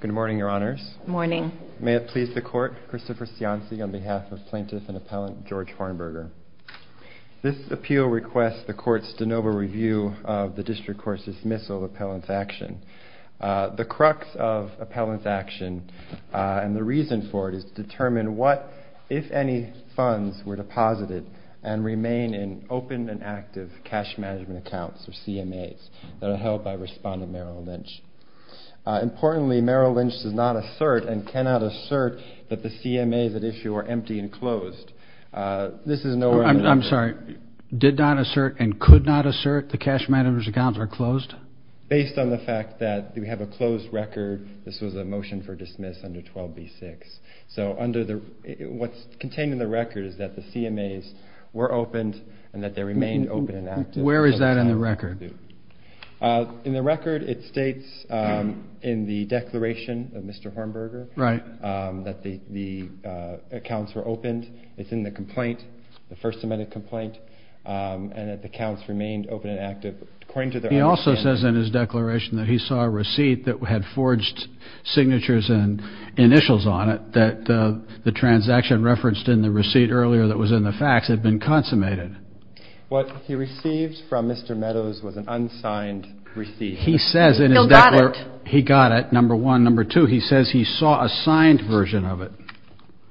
Good morning, Your Honors. May it please the Court, Christopher Cianci on behalf of Plaintiff and Appellant George Hornberger. This appeal requests the Court's de novo review of the District Court's dismissal of Appellant's action. The crux of Appellant's action and the reason for it is to determine what, if any, funds were deposited and remain in open and active cash management accounts, or CMAs, that are held by Respondent Merrill Lynch. Importantly, Merrill Lynch does not assert and cannot assert that the CMAs at issue are empty and closed. I'm sorry, did not assert and could not assert the cash management accounts are closed? Based on the fact that we have a closed record, this was a motion for dismiss under 12b-6. So what's contained in the record is that the CMAs were opened and that they remained open and active. Where is that in the record? In the record it states in the declaration of Mr. Hornberger that the accounts were opened. It's in the complaint, the first amended complaint, and that the accounts remained open and active. He also says in his declaration that he saw a receipt that had forged signatures and initials on it that the transaction referenced in the receipt earlier that was in the fax had been consummated. What he received from Mr. Meadows was an unsigned receipt. He says in his declaration... He got it. He got it, number one. Number two, he says he saw a signed version of it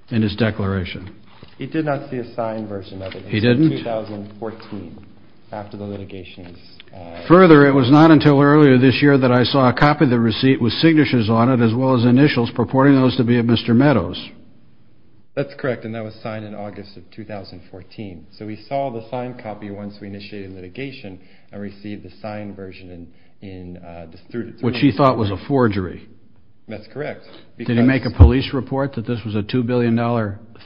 in his declaration. He did not see a signed version of it. He didn't? It was in 2014 after the litigation. Further, it was not until earlier this year that I saw a copy of the receipt with signatures on it as well as initials purporting those to be of Mr. Meadows. That's correct, and that was signed in August of 2014. So he saw the signed copy once we initiated litigation and received the signed version in... Which he thought was a forgery. That's correct. Did he make a police report that this was a $2 billion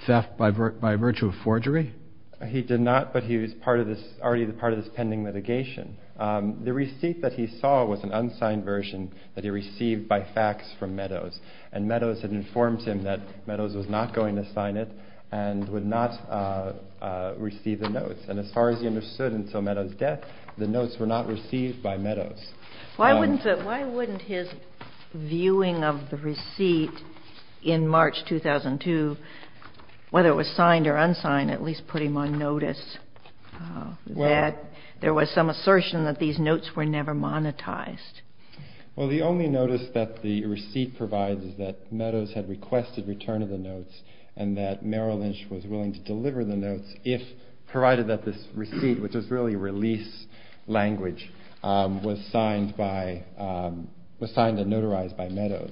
theft by virtue of forgery? He did not, but he was already part of this pending litigation. The receipt that he saw was an unsigned version that he received by fax from Meadows, and Meadows had informed him that Meadows was not going to sign it and would not receive the notes. And as far as he understood until Meadows' death, the notes were not received by Meadows. Why wouldn't his viewing of the receipt in March 2002, whether it was signed or unsigned, at least put him on notice that there was some assertion that these notes were never monetized? Well, the only notice that the receipt provides is that Meadows had requested return of the notes, and that Merrill Lynch was willing to deliver the notes if provided that this receipt, which was really release language, was signed and notarized by Meadows.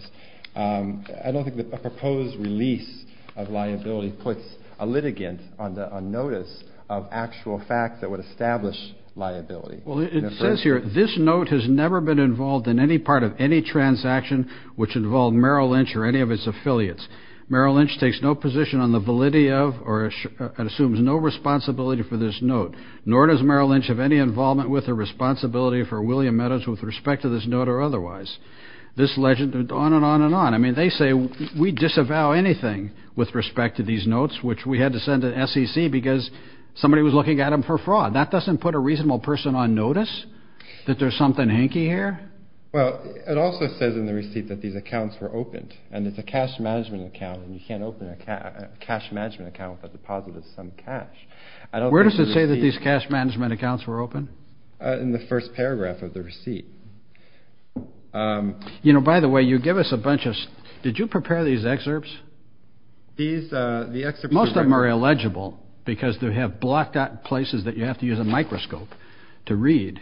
I don't think that a proposed release of liability puts a litigant on notice of actual fact that would establish liability. Well, it says here, this note has never been involved in any part of any transaction which involved Merrill Lynch or any of its affiliates. Merrill Lynch takes no position on the validity of or assumes no responsibility for this note, nor does Merrill Lynch have any involvement with or responsibility for William Meadows with respect to this note or otherwise. This legend, on and on and on. I mean, they say we disavow anything with respect to these notes, which we had to send to SEC because somebody was looking at them for fraud. That doesn't put a reasonable person on notice that there's something hinky here? Well, it also says in the receipt that these accounts were opened, and it's a cash management account, and you can't open a cash management account with a deposit of some cash. Where does it say that these cash management accounts were opened? In the first paragraph of the receipt. You know, by the way, you give us a bunch of – did you prepare these excerpts? Most of them are illegible because they have blocked out places that you have to use a microscope to read.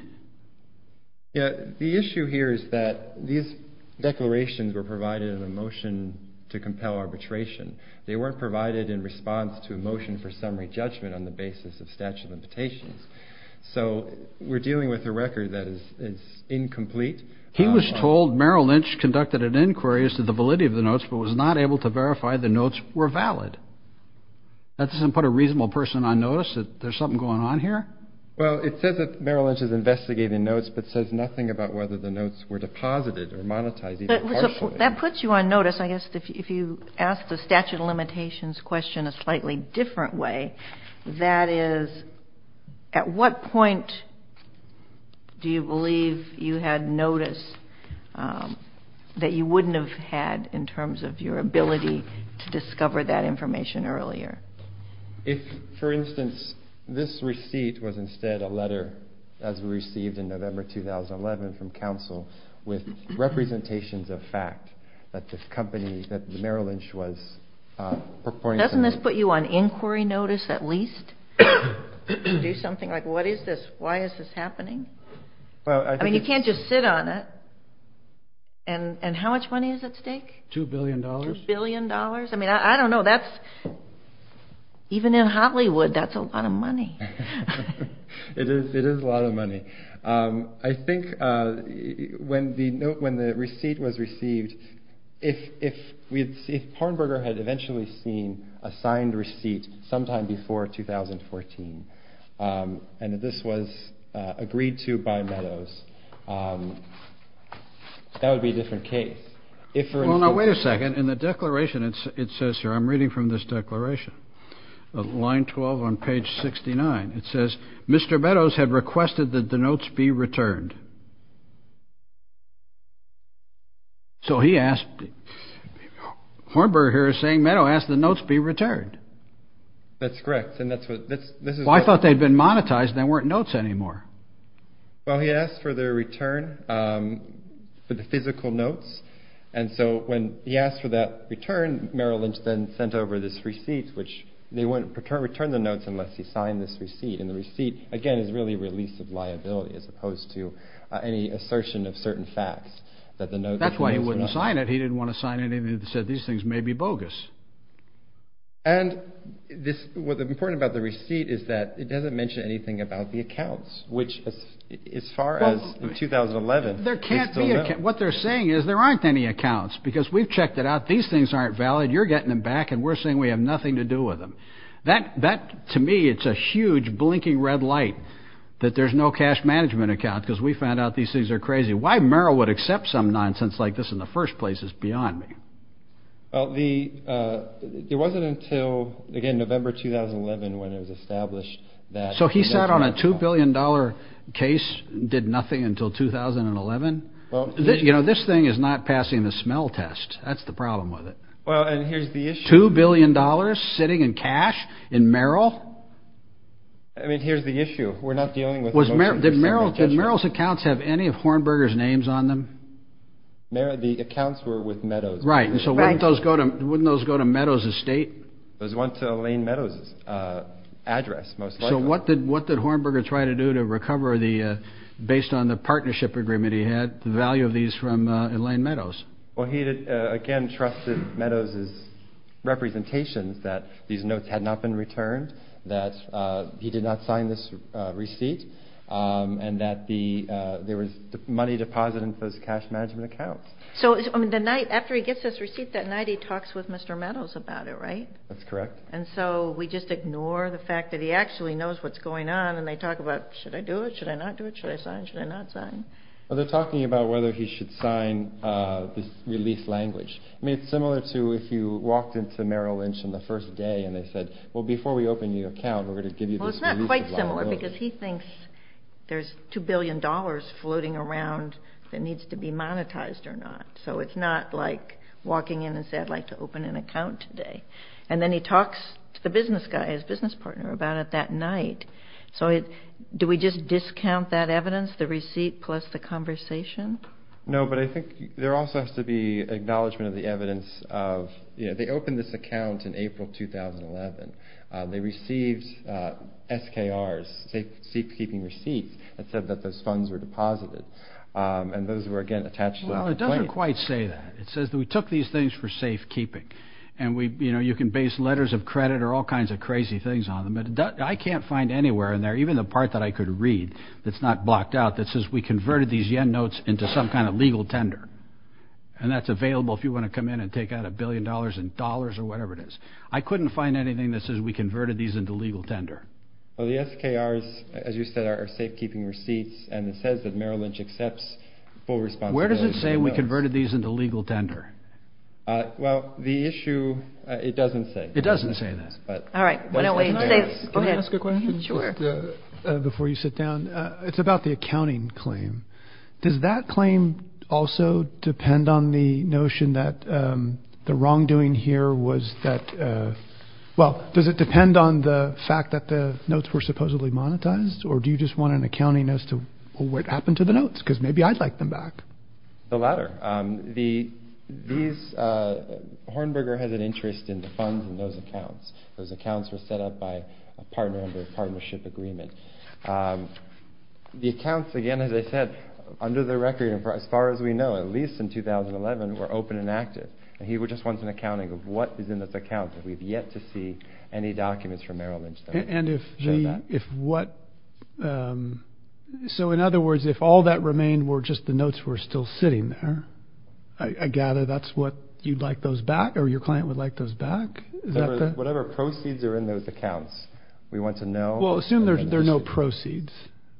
Yeah, the issue here is that these declarations were provided in a motion to compel arbitration. They weren't provided in response to a motion for summary judgment on the basis of statute of limitations. So we're dealing with a record that is incomplete. He was told Merrill Lynch conducted an inquiry as to the validity of the notes but was not able to verify the notes were valid. That doesn't put a reasonable person on notice that there's something going on here? Well, it says that Merrill Lynch is investigating notes but says nothing about whether the notes were deposited or monetized, even partially. That puts you on notice, I guess, if you ask the statute of limitations question a slightly different way. That is, at what point do you believe you had notice that you wouldn't have had in terms of your ability to discover that information earlier? If, for instance, this receipt was instead a letter as we received in November 2011 from counsel with representations of fact that Merrill Lynch was purporting to... Doesn't this put you on inquiry notice at least? Do something like, what is this? Why is this happening? I mean, you can't just sit on it. And how much money is at stake? Two billion dollars. Two billion dollars? I mean, I don't know. Even in Hollywood, that's a lot of money. It is a lot of money. I think when the receipt was received, if Parnberger had eventually seen a signed receipt sometime before 2014 and this was agreed to by Meadows, that would be a different case. Well, now, wait a second. In the declaration, it says here, I'm reading from this declaration, line 12 on page 69. It says Mr. Meadows had requested that the notes be returned. So he asked, Parnberger here is saying Meadows asked the notes be returned. That's correct. And that's what this is. I thought they'd been monetized. They weren't notes anymore. Well, he asked for their return, for the physical notes. And so when he asked for that return, Merrill Lynch then sent over this receipt, which they wouldn't return the notes unless he signed this receipt. And the receipt, again, is really a release of liability as opposed to any assertion of certain facts. That's why he wouldn't sign it. He didn't want to sign anything that said these things may be bogus. And what's important about the receipt is that it doesn't mention anything about the accounts, which as far as 2011. There can't be. What they're saying is there aren't any accounts because we've checked it out. These things aren't valid. You're getting them back and we're saying we have nothing to do with them. That to me, it's a huge blinking red light that there's no cash management account because we found out these things are crazy. Why Merrill would accept some nonsense like this in the first place is beyond me. Well, the it wasn't until, again, November 2011 when it was established that. So he sat on a two billion dollar case, did nothing until 2011. Well, you know, this thing is not passing the smell test. That's the problem with it. Well, and here's the issue. Two billion dollars sitting in cash in Merrill. I mean, here's the issue. We're not dealing with Merrill. Merrill's accounts have any of Hornberger's names on them. Merrill, the accounts were with Meadows. Right. And so wouldn't those go to Meadows' estate? Those went to Elaine Meadows' address, most likely. So what did Hornberger try to do to recover, based on the partnership agreement he had, the value of these from Elaine Meadows? Well, he again trusted Meadows' representations that these notes had not been returned, that he did not sign this receipt, and that there was money deposited in those cash management accounts. So after he gets this receipt that night, he talks with Mr. Meadows about it, right? That's correct. And so we just ignore the fact that he actually knows what's going on, and they talk about, should I do it, should I not do it, should I sign, should I not sign? Well, they're talking about whether he should sign this release language. I mean, it's similar to if you walked into Merrill Lynch on the first day, and they said, well, before we open your account, we're going to give you this release. It's quite similar, because he thinks there's $2 billion floating around that needs to be monetized or not. So it's not like walking in and saying, I'd like to open an account today. And then he talks to the business guy, his business partner, about it that night. So do we just discount that evidence, the receipt plus the conversation? No, but I think there also has to be acknowledgment of the evidence of, you know, they opened this account in April 2011. They received SKRs, safekeeping receipts, that said that those funds were deposited. And those were, again, attached to a complaint. Well, it doesn't quite say that. It says that we took these things for safekeeping. And, you know, you can base letters of credit or all kinds of crazy things on them. But I can't find anywhere in there, even the part that I could read that's not blocked out, that says we converted these yen notes into some kind of legal tender. And that's available if you want to come in and take out a billion dollars in dollars or whatever it is. I couldn't find anything that says we converted these into legal tender. Well, the SKRs, as you said, are safekeeping receipts, and it says that Merrill Lynch accepts full responsibility. Where does it say we converted these into legal tender? Well, the issue, it doesn't say. It doesn't say that. All right. Why don't we say, go ahead. Can I ask a question? Sure. Before you sit down. It's about the accounting claim. Does that claim also depend on the notion that the wrongdoing here was that, well, does it depend on the fact that the notes were supposedly monetized? Or do you just want an accounting as to what happened to the notes? Because maybe I'd like them back. The latter. Hornberger has an interest in the funds in those accounts. Those accounts were set up by a partner under a partnership agreement. The accounts, again, as I said, under the record, as far as we know, at least in 2011, were open and active. And he just wants an accounting of what is in those accounts. We've yet to see any documents from Merrill Lynch that show that. So, in other words, if all that remained were just the notes were still sitting there, I gather that's what you'd like those back or your client would like those back? Whatever proceeds are in those accounts, we want to know. Well, assume there are no proceeds,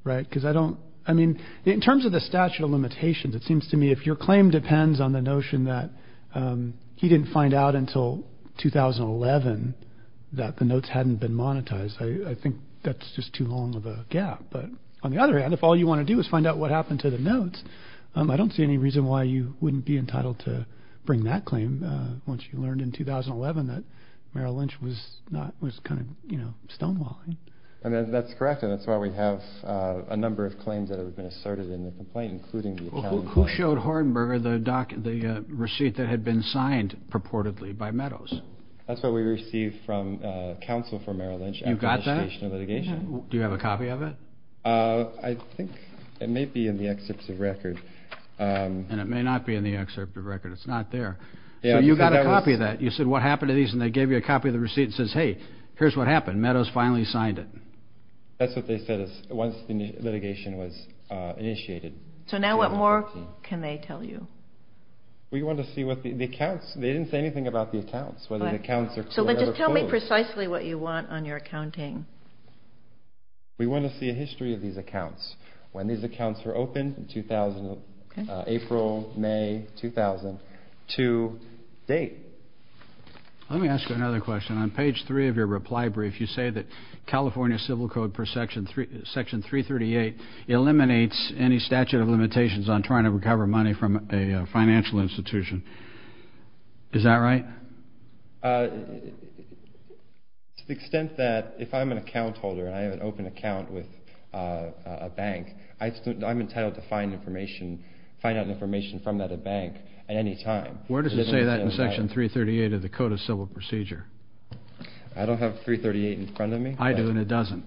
right? Because I don't – I mean, in terms of the statute of limitations, it seems to me if your claim depends on the notion that he didn't find out until 2011 that the notes hadn't been monetized, I think that's just too long of a gap. But on the other hand, if all you want to do is find out what happened to the notes, I don't see any reason why you wouldn't be entitled to bring that claim once you learned in 2011 that Merrill Lynch was kind of stonewalling. I mean, that's correct, and that's why we have a number of claims that have been asserted in the complaint, including the accounting claim. Well, who showed Hordenberger the receipt that had been signed purportedly by Meadows? That's what we received from counsel for Merrill Lynch after the station of litigation. You got that? Do you have a copy of it? I think it may be in the excerpt of record. And it may not be in the excerpt of record. It's not there. So you got a copy of that. You said, what happened to these? And they gave you a copy of the receipt and says, hey, here's what happened. Meadows finally signed it. That's what they said once the litigation was initiated. So now what more can they tell you? We want to see what the accounts, they didn't say anything about the accounts, whether the accounts are clear or not. So just tell me precisely what you want on your accounting. We want to see a history of these accounts, when these accounts were opened in April, May 2000, to date. Let me ask you another question. On page three of your reply brief, you say that California Civil Code Section 338 eliminates any statute of limitations on trying to recover money from a financial institution. Is that right? To the extent that if I'm an account holder and I have an open account with a bank, I'm entitled to find information, find out information from that bank at any time. Where does it say that in Section 338 of the Code of Civil Procedure? I don't have 338 in front of me. I do, and it doesn't.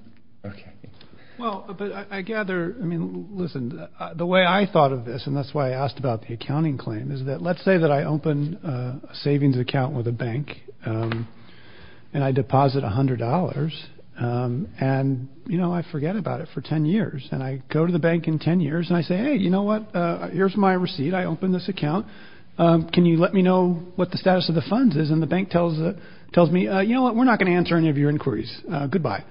Well, but I gather, I mean, listen, the way I thought of this, and that's why I asked about the accounting claim, is that let's say that I open a savings account with a bank and I deposit $100. And, you know, I forget about it for 10 years. And I go to the bank in 10 years and I say, hey, you know what, here's my receipt. I open this account. Can you let me know what the status of the funds is? And the bank tells me, you know what, we're not going to answer any of your inquiries. Goodbye.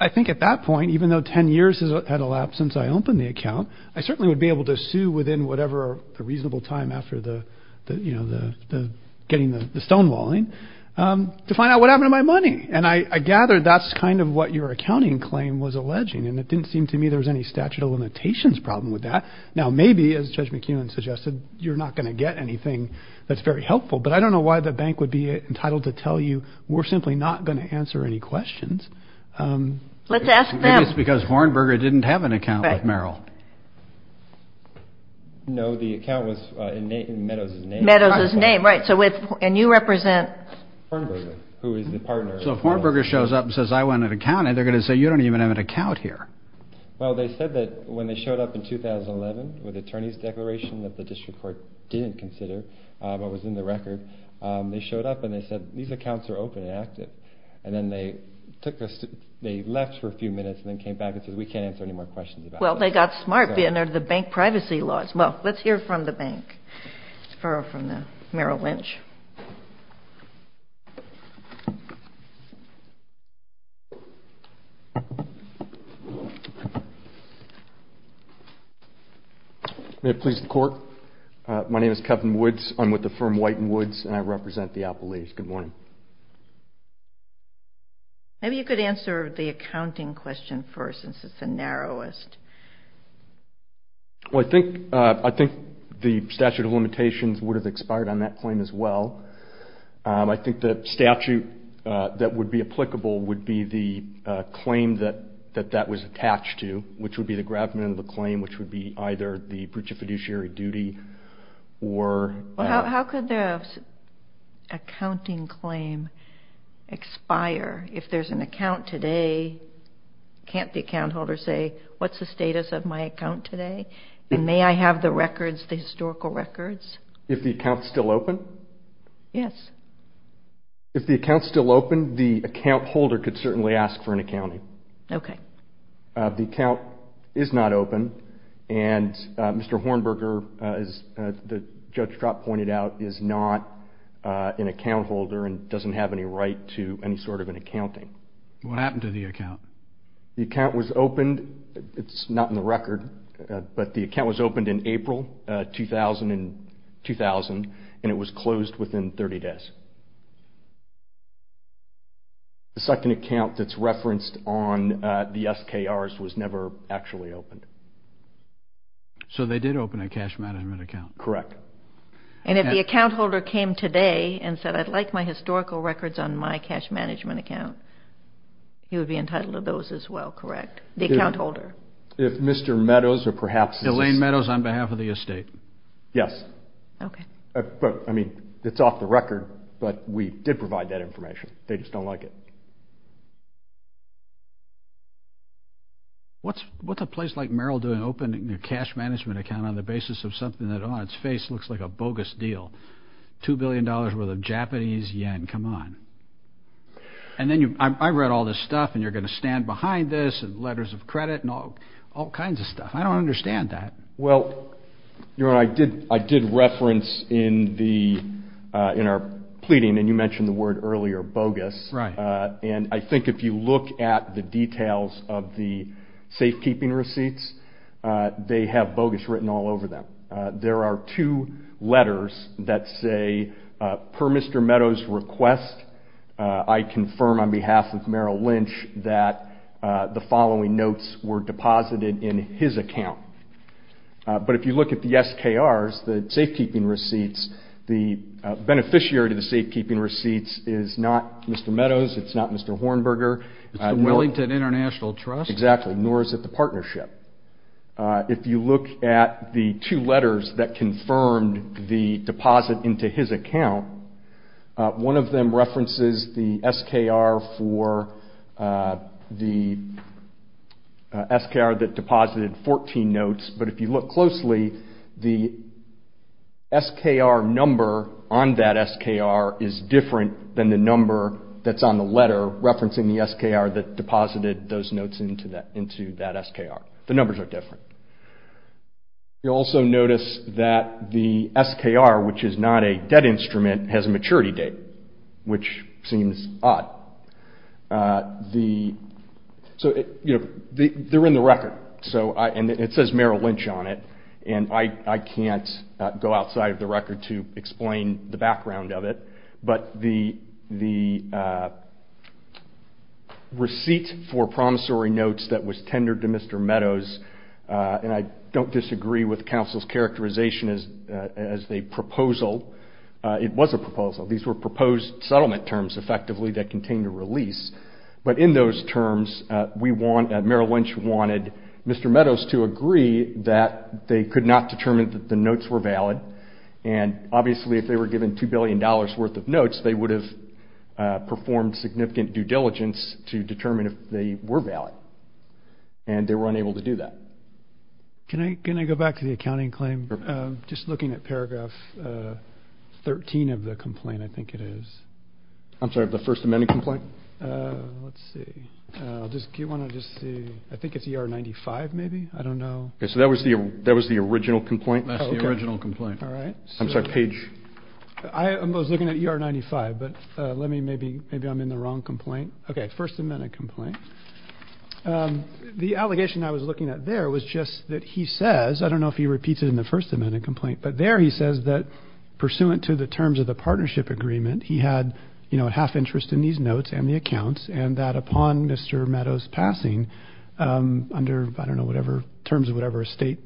I think at that point, even though 10 years has elapsed since I opened the account, I certainly would be able to sue within whatever reasonable time after the, you know, the getting the stonewalling to find out what happened to my money. And I gather that's kind of what your accounting claim was alleging, and it didn't seem to me there was any statute of limitations problem with that. Now, maybe, as Judge McEwen suggested, you're not going to get anything that's very helpful. But I don't know why the bank would be entitled to tell you we're simply not going to answer any questions. Let's ask them. Maybe it's because Vornberger didn't have an account with Merrill. No, the account was in Meadows' name. Meadows' name, right. And you represent? Vornberger, who is the partner. So if Vornberger shows up and says I want an account, they're going to say you don't even have an account here. Well, they said that when they showed up in 2011 with an attorney's declaration that the district court didn't consider but was in the record, they showed up and they said these accounts are open and active. And then they took us to – they left for a few minutes and then came back and said we can't answer any more questions about this. Well, they got smart, being under the bank privacy laws. Well, let's hear from the bank, or from Merrill Lynch. May it please the court. My name is Kevin Woods. I'm with the firm White and Woods and I represent the Apple Leafs. Good morning. Maybe you could answer the accounting question first since it's the narrowest. Well, I think the statute of limitations would have expired on that claim as well. I think the statute that would be applicable would be the claim that that was attached to, which would be the gravamen of the claim, which would be either the breach of fiduciary duty or – How could the accounting claim expire if there's an account today? Can't the account holder say what's the status of my account today? And may I have the records, the historical records? If the account's still open? Yes. If the account's still open, the account holder could certainly ask for an accounting. Okay. The account is not open and Mr. Hornberger, as Judge Trott pointed out, is not an account holder and doesn't have any right to any sort of an accounting. What happened to the account? The account was opened. It's not in the record, but the account was opened in April 2000 and it was closed within 30 days. The second account that's referenced on the SKRs was never actually opened. So they did open a cash management account? Correct. And if the account holder came today and said, I'd like my historical records on my cash management account, he would be entitled to those as well, correct? The account holder. If Mr. Meadows or perhaps – Elaine Meadows on behalf of the estate. Yes. Okay. But, I mean, it's off the record, but we did provide that information. They just don't like it. What's a place like Merrill doing opening a cash management account on the basis of something that on its face looks like a bogus deal? $2 billion worth of Japanese yen. Come on. And then you – I read all this stuff and you're going to stand behind this and letters of credit and all kinds of stuff. I don't understand that. Well, I did reference in our pleading, and you mentioned the word earlier, bogus. Right. And I think if you look at the details of the safekeeping receipts, they have bogus written all over them. There are two letters that say, per Mr. Meadows' request, I confirm on behalf of Merrill Lynch that the following notes were deposited in his account. But if you look at the SKRs, the safekeeping receipts, the beneficiary of the safekeeping receipts is not Mr. Meadows, it's not Mr. Hornberger. It's the Wellington International Trust. Exactly. Nor is it the partnership. If you look at the two letters that confirmed the deposit into his account, one of them references the SKR for the SKR that deposited 14 notes. But if you look closely, the SKR number on that SKR is different than the number that's on the letter referencing the SKR that deposited those notes into that SKR. The numbers are different. You'll also notice that the SKR, which is not a debt instrument, has a maturity date, which seems odd. They're in the record, and it says Merrill Lynch on it, and I can't go outside of the record to explain the background of it. But the receipt for promissory notes that was tendered to Mr. Meadows, and I don't disagree with Council's characterization as a proposal. It was a proposal. These were proposed settlement terms, effectively, that contained a release. But in those terms, Merrill Lynch wanted Mr. Meadows to agree that they could not determine that the notes were valid, and obviously if they were given $2 billion worth of notes, they would have performed significant due diligence to determine if they were valid, and they were unable to do that. Can I go back to the accounting claim? Just looking at paragraph 13 of the complaint, I think it is. I'm sorry, the First Amendment complaint? Let's see. Do you want to just see? I think it's ER-95, maybe. I don't know. So that was the original complaint? That's the original complaint. All right. I'm sorry, page. I was looking at ER-95, but maybe I'm in the wrong complaint. Okay, First Amendment complaint. The allegation I was looking at there was just that he says, I don't know if he repeats it in the First Amendment complaint, but there he says that pursuant to the terms of the partnership agreement, he had half interest in these notes and the accounts, and that upon Mr. Meadows' passing, under, I don't know, terms of whatever estate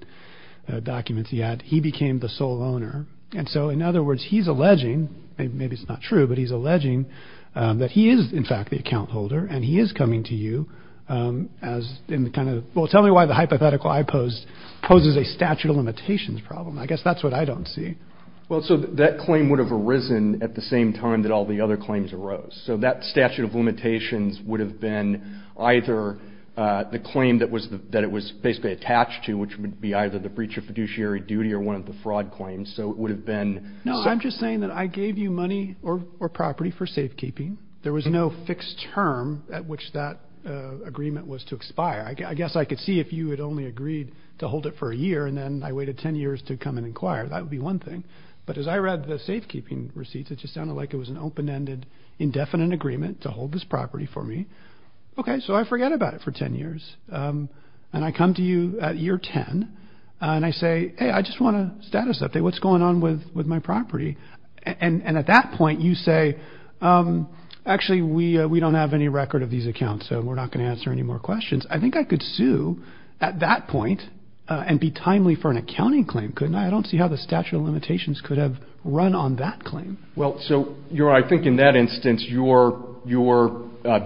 documents he had, he became the sole owner. And so, in other words, he's alleging, maybe it's not true, but he's alleging that he is, in fact, the account holder and he is coming to you as in the kind of, well, tell me why the hypothetical I posed poses a statute of limitations problem. I guess that's what I don't see. Well, so that claim would have arisen at the same time that all the other claims arose. So that statute of limitations would have been either the claim that it was basically attached to, which would be either the breach of fiduciary duty or one of the fraud claims. So it would have been. No, I'm just saying that I gave you money or property for safekeeping. There was no fixed term at which that agreement was to expire. I guess I could see if you had only agreed to hold it for a year and then I waited 10 years to come and inquire. That would be one thing. But as I read the safekeeping receipts, it just sounded like it was an open-ended, indefinite agreement to hold this property for me. OK, so I forget about it for 10 years. And I come to you at year 10 and I say, hey, I just want a status update. What's going on with my property? And at that point you say, actually, we don't have any record of these accounts, so we're not going to answer any more questions. I think I could sue at that point and be timely for an accounting claim, couldn't I? I don't see how the statute of limitations could have run on that claim. Well, so I think in that instance your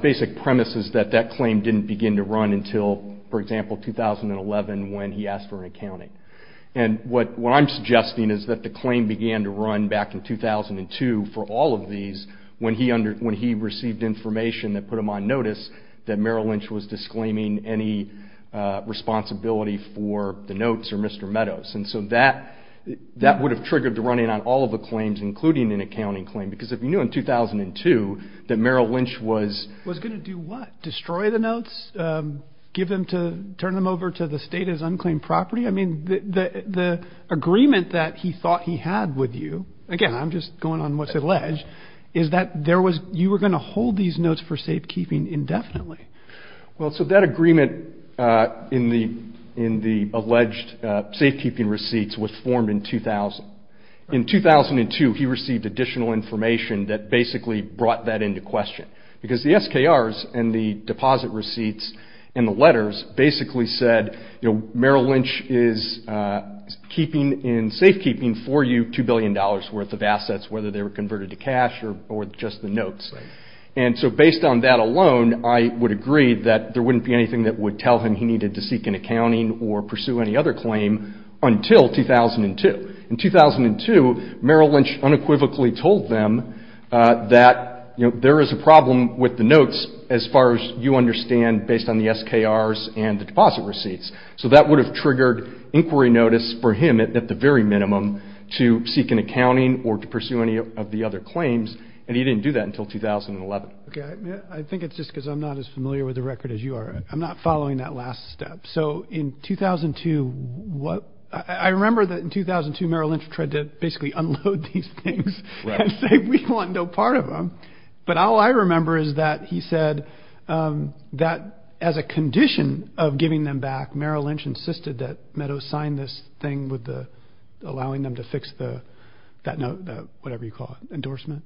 basic premise is that that claim didn't begin to run until, for example, 2011 when he asked for an accounting. And what I'm suggesting is that the claim began to run back in 2002 for all of these when he received information that put him on notice that Merrill Lynch was disclaiming any responsibility for the notes or Mr. Meadows. And so that would have triggered the running on all of the claims, including an accounting claim, because if you knew in 2002 that Merrill Lynch was going to do what? Destroy the notes? Turn them over to the state as unclaimed property? I mean, the agreement that he thought he had with you, again, I'm just going on what's alleged, is that you were going to hold these notes for safekeeping indefinitely. Well, so that agreement in the alleged safekeeping receipts was formed in 2000. In 2002, he received additional information that basically brought that into question, because the SKRs and the deposit receipts and the letters basically said, you know, Merrill Lynch is keeping in safekeeping for you $2 billion worth of assets, whether they were converted to cash or just the notes. And so based on that alone, I would agree that there wouldn't be anything that would tell him he needed to seek an accounting or pursue any other claim until 2002. In 2002, Merrill Lynch unequivocally told them that, you know, there is a problem with the notes as far as you understand based on the SKRs and the deposit receipts. So that would have triggered inquiry notice for him at the very minimum to seek an accounting or to pursue any of the other claims, and he didn't do that until 2011. Okay. I think it's just because I'm not as familiar with the record as you are. I'm not following that last step. So in 2002, what – I remember that in 2002 Merrill Lynch tried to basically unload these things and say we want no part of them. But all I remember is that he said that as a condition of giving them back, Merrill Lynch insisted that Meadows sign this thing with the – whatever you call it, endorsement,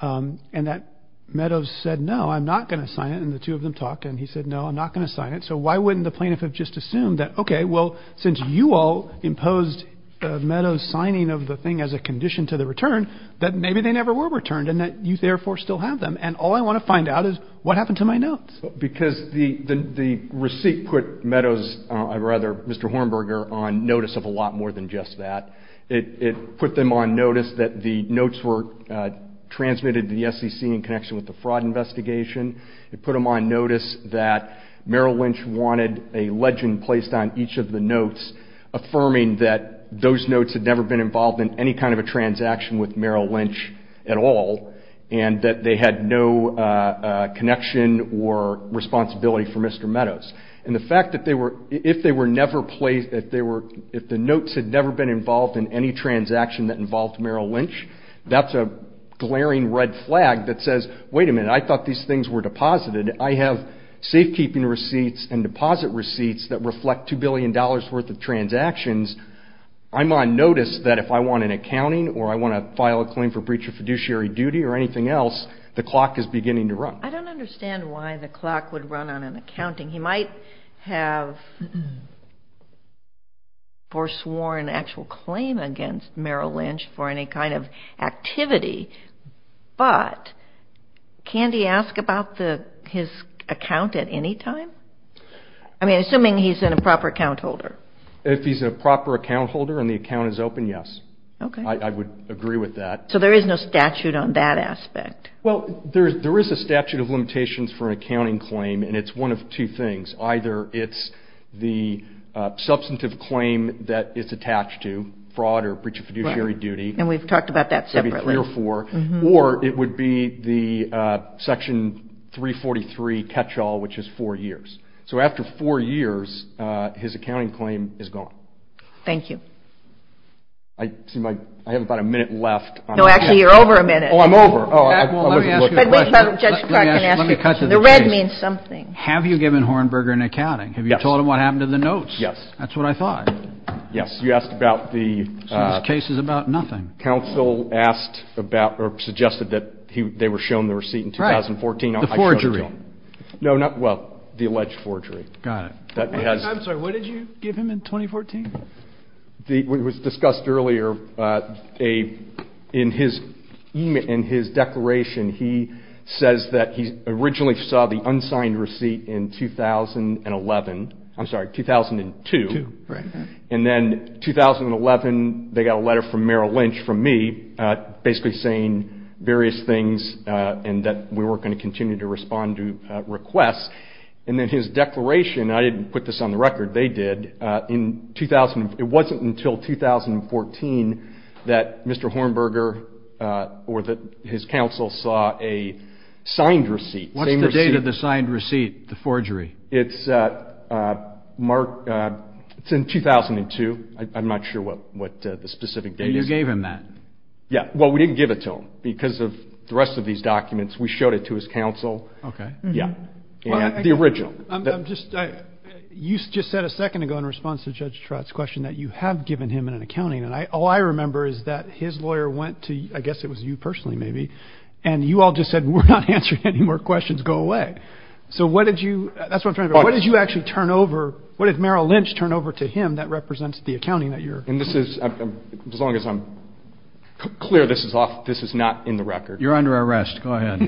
and that Meadows said, no, I'm not going to sign it. And the two of them talked, and he said, no, I'm not going to sign it. So why wouldn't the plaintiff have just assumed that, okay, well, since you all imposed Meadows' signing of the thing as a condition to the return, that maybe they never were returned and that you therefore still have them. And all I want to find out is what happened to my notes. Because the receipt put Meadows – or rather Mr. Hornberger on notice of a lot more than just that. It put them on notice that the notes were transmitted to the SEC in connection with the fraud investigation. It put them on notice that Merrill Lynch wanted a legend placed on each of the notes affirming that those notes had never been involved in any kind of a transaction with Merrill Lynch at all and that they had no connection or responsibility for Mr. Meadows. And the fact that if the notes had never been involved in any transaction that involved Merrill Lynch, that's a glaring red flag that says, wait a minute, I thought these things were deposited. I have safekeeping receipts and deposit receipts that reflect $2 billion worth of transactions. I'm on notice that if I want an accounting or I want to file a claim for breach of fiduciary duty or anything else, the clock is beginning to run. I don't understand why the clock would run on an accounting. He might have foresworn an actual claim against Merrill Lynch for any kind of activity, but can he ask about his account at any time? I mean, assuming he's a proper account holder. If he's a proper account holder and the account is open, yes. Okay. I would agree with that. So there is no statute on that aspect? Well, there is a statute of limitations for an accounting claim, and it's one of two things. Either it's the substantive claim that it's attached to, fraud or breach of fiduciary duty. And we've talked about that separately. So it would be three or four. Or it would be the Section 343 catch-all, which is four years. So after four years, his accounting claim is gone. Thank you. I seem like I have about a minute left. No, actually, you're over a minute. Oh, I'm over. Oh, I wasn't looking. Let me ask you a question. Let me cut to the chase. The red means something. Have you given Hornberger an accounting? Yes. Have you told him what happened to the notes? Yes. That's what I thought. Yes. You asked about the — So this case is about nothing. Counsel asked about or suggested that they were shown the receipt in 2014. Right. The forgery. No, not — well, the alleged forgery. Got it. I'm sorry. What did you give him in 2014? It was discussed earlier in his declaration. He says that he originally saw the unsigned receipt in 2011. I'm sorry, 2002. Right. And then 2011, they got a letter from Merrill Lynch, from me, basically saying various things and that we weren't going to continue to respond to requests. And then his declaration — I didn't put this on the record. They did. It wasn't until 2014 that Mr. Hornberger or that his counsel saw a signed receipt. What's the date of the signed receipt, the forgery? It's in 2002. I'm not sure what the specific date is. And you gave him that. Yes. Well, we didn't give it to him because of the rest of these documents. We showed it to his counsel. Okay. Yes. The original. You just said a second ago, in response to Judge Trott's question, that you have given him an accounting. And all I remember is that his lawyer went to — I guess it was you personally, maybe — and you all just said, we're not answering any more questions. Go away. So what did you — that's what I'm trying to — what did you actually turn over — what did Merrill Lynch turn over to him that represents the accounting that you're — And this is — as long as I'm clear, this is off — this is not in the record. You're under arrest. Go ahead.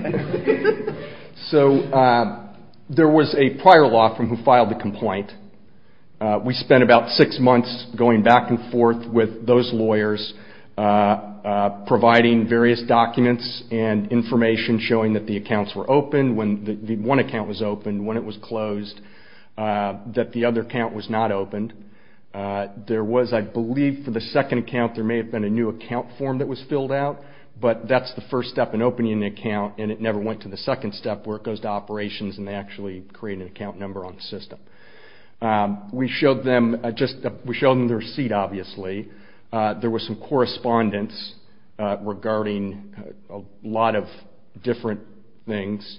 So there was a prior law firm who filed the complaint. We spent about six months going back and forth with those lawyers, providing various documents and information showing that the accounts were open, when the one account was open, when it was closed, that the other account was not opened. There was, I believe, for the second account, there may have been a new account form that was filled out, but that's the first step in opening an account, and it never went to the second step where it goes to operations and they actually create an account number on the system. We showed them just — we showed them the receipt, obviously. There was some correspondence regarding a lot of different things.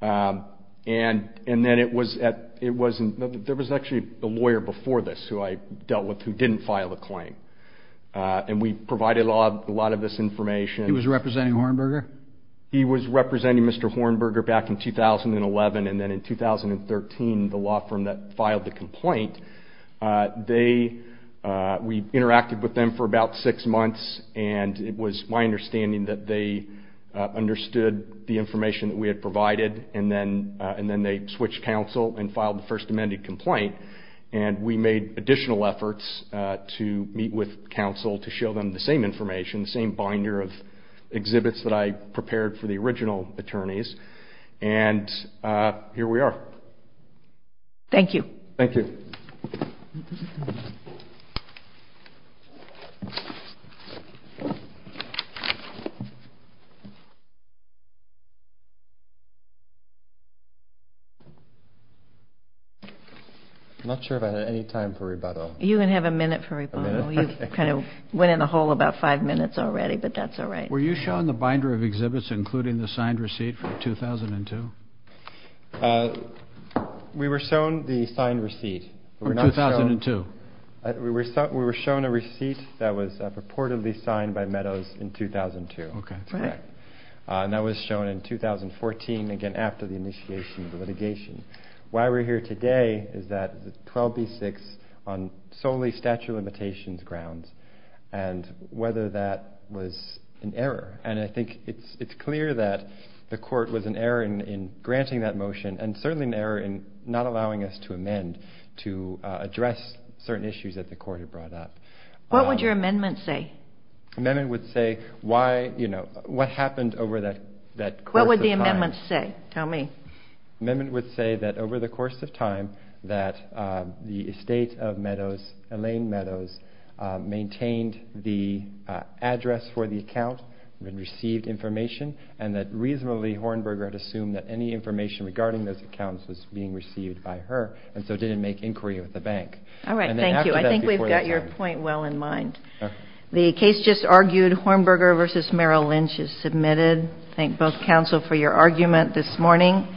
And then it was at — there was actually a lawyer before this who I dealt with who didn't file the claim. And we provided a lot of this information. He was representing Hornberger? He was representing Mr. Hornberger back in 2011, and then in 2013 the law firm that filed the complaint, they — we interacted with them for about six months, and it was my understanding that they understood the information that we had provided, and then they switched counsel and filed the First Amendment complaint. And we made additional efforts to meet with counsel to show them the same information, the same binder of exhibits that I prepared for the original attorneys. And here we are. Thank you. Thank you. I'm not sure if I have any time for rebuttal. You can have a minute for rebuttal. A minute? You kind of went in a hole about five minutes already, but that's all right. Were you shown the binder of exhibits including the signed receipt from 2002? We were shown the signed receipt. From 2002. We were shown a receipt that was purportedly signed by Meadows in 2002. Okay, that's correct. And that was shown in 2014, again, after the initiation of the litigation. Why we're here today is that 12b-6 on solely statute of limitations grounds and whether that was an error. And I think it's clear that the court was an error in granting that motion and certainly an error in not allowing us to amend to address certain issues that the court had brought up. What would your amendment say? Amendment would say why, you know, what happened over that course of time. What would the amendment say? Tell me. Amendment would say that over the course of time that the estate of Meadows, Elaine Meadows, maintained the address for the account and received information and that reasonably Hornberger had assumed that any information regarding those accounts was being received by her and so didn't make inquiry with the bank. All right, thank you. I think we've got your point well in mind. The case just argued, Hornberger v. Merrill Lynch is submitted. Thank both counsel for your argument this morning.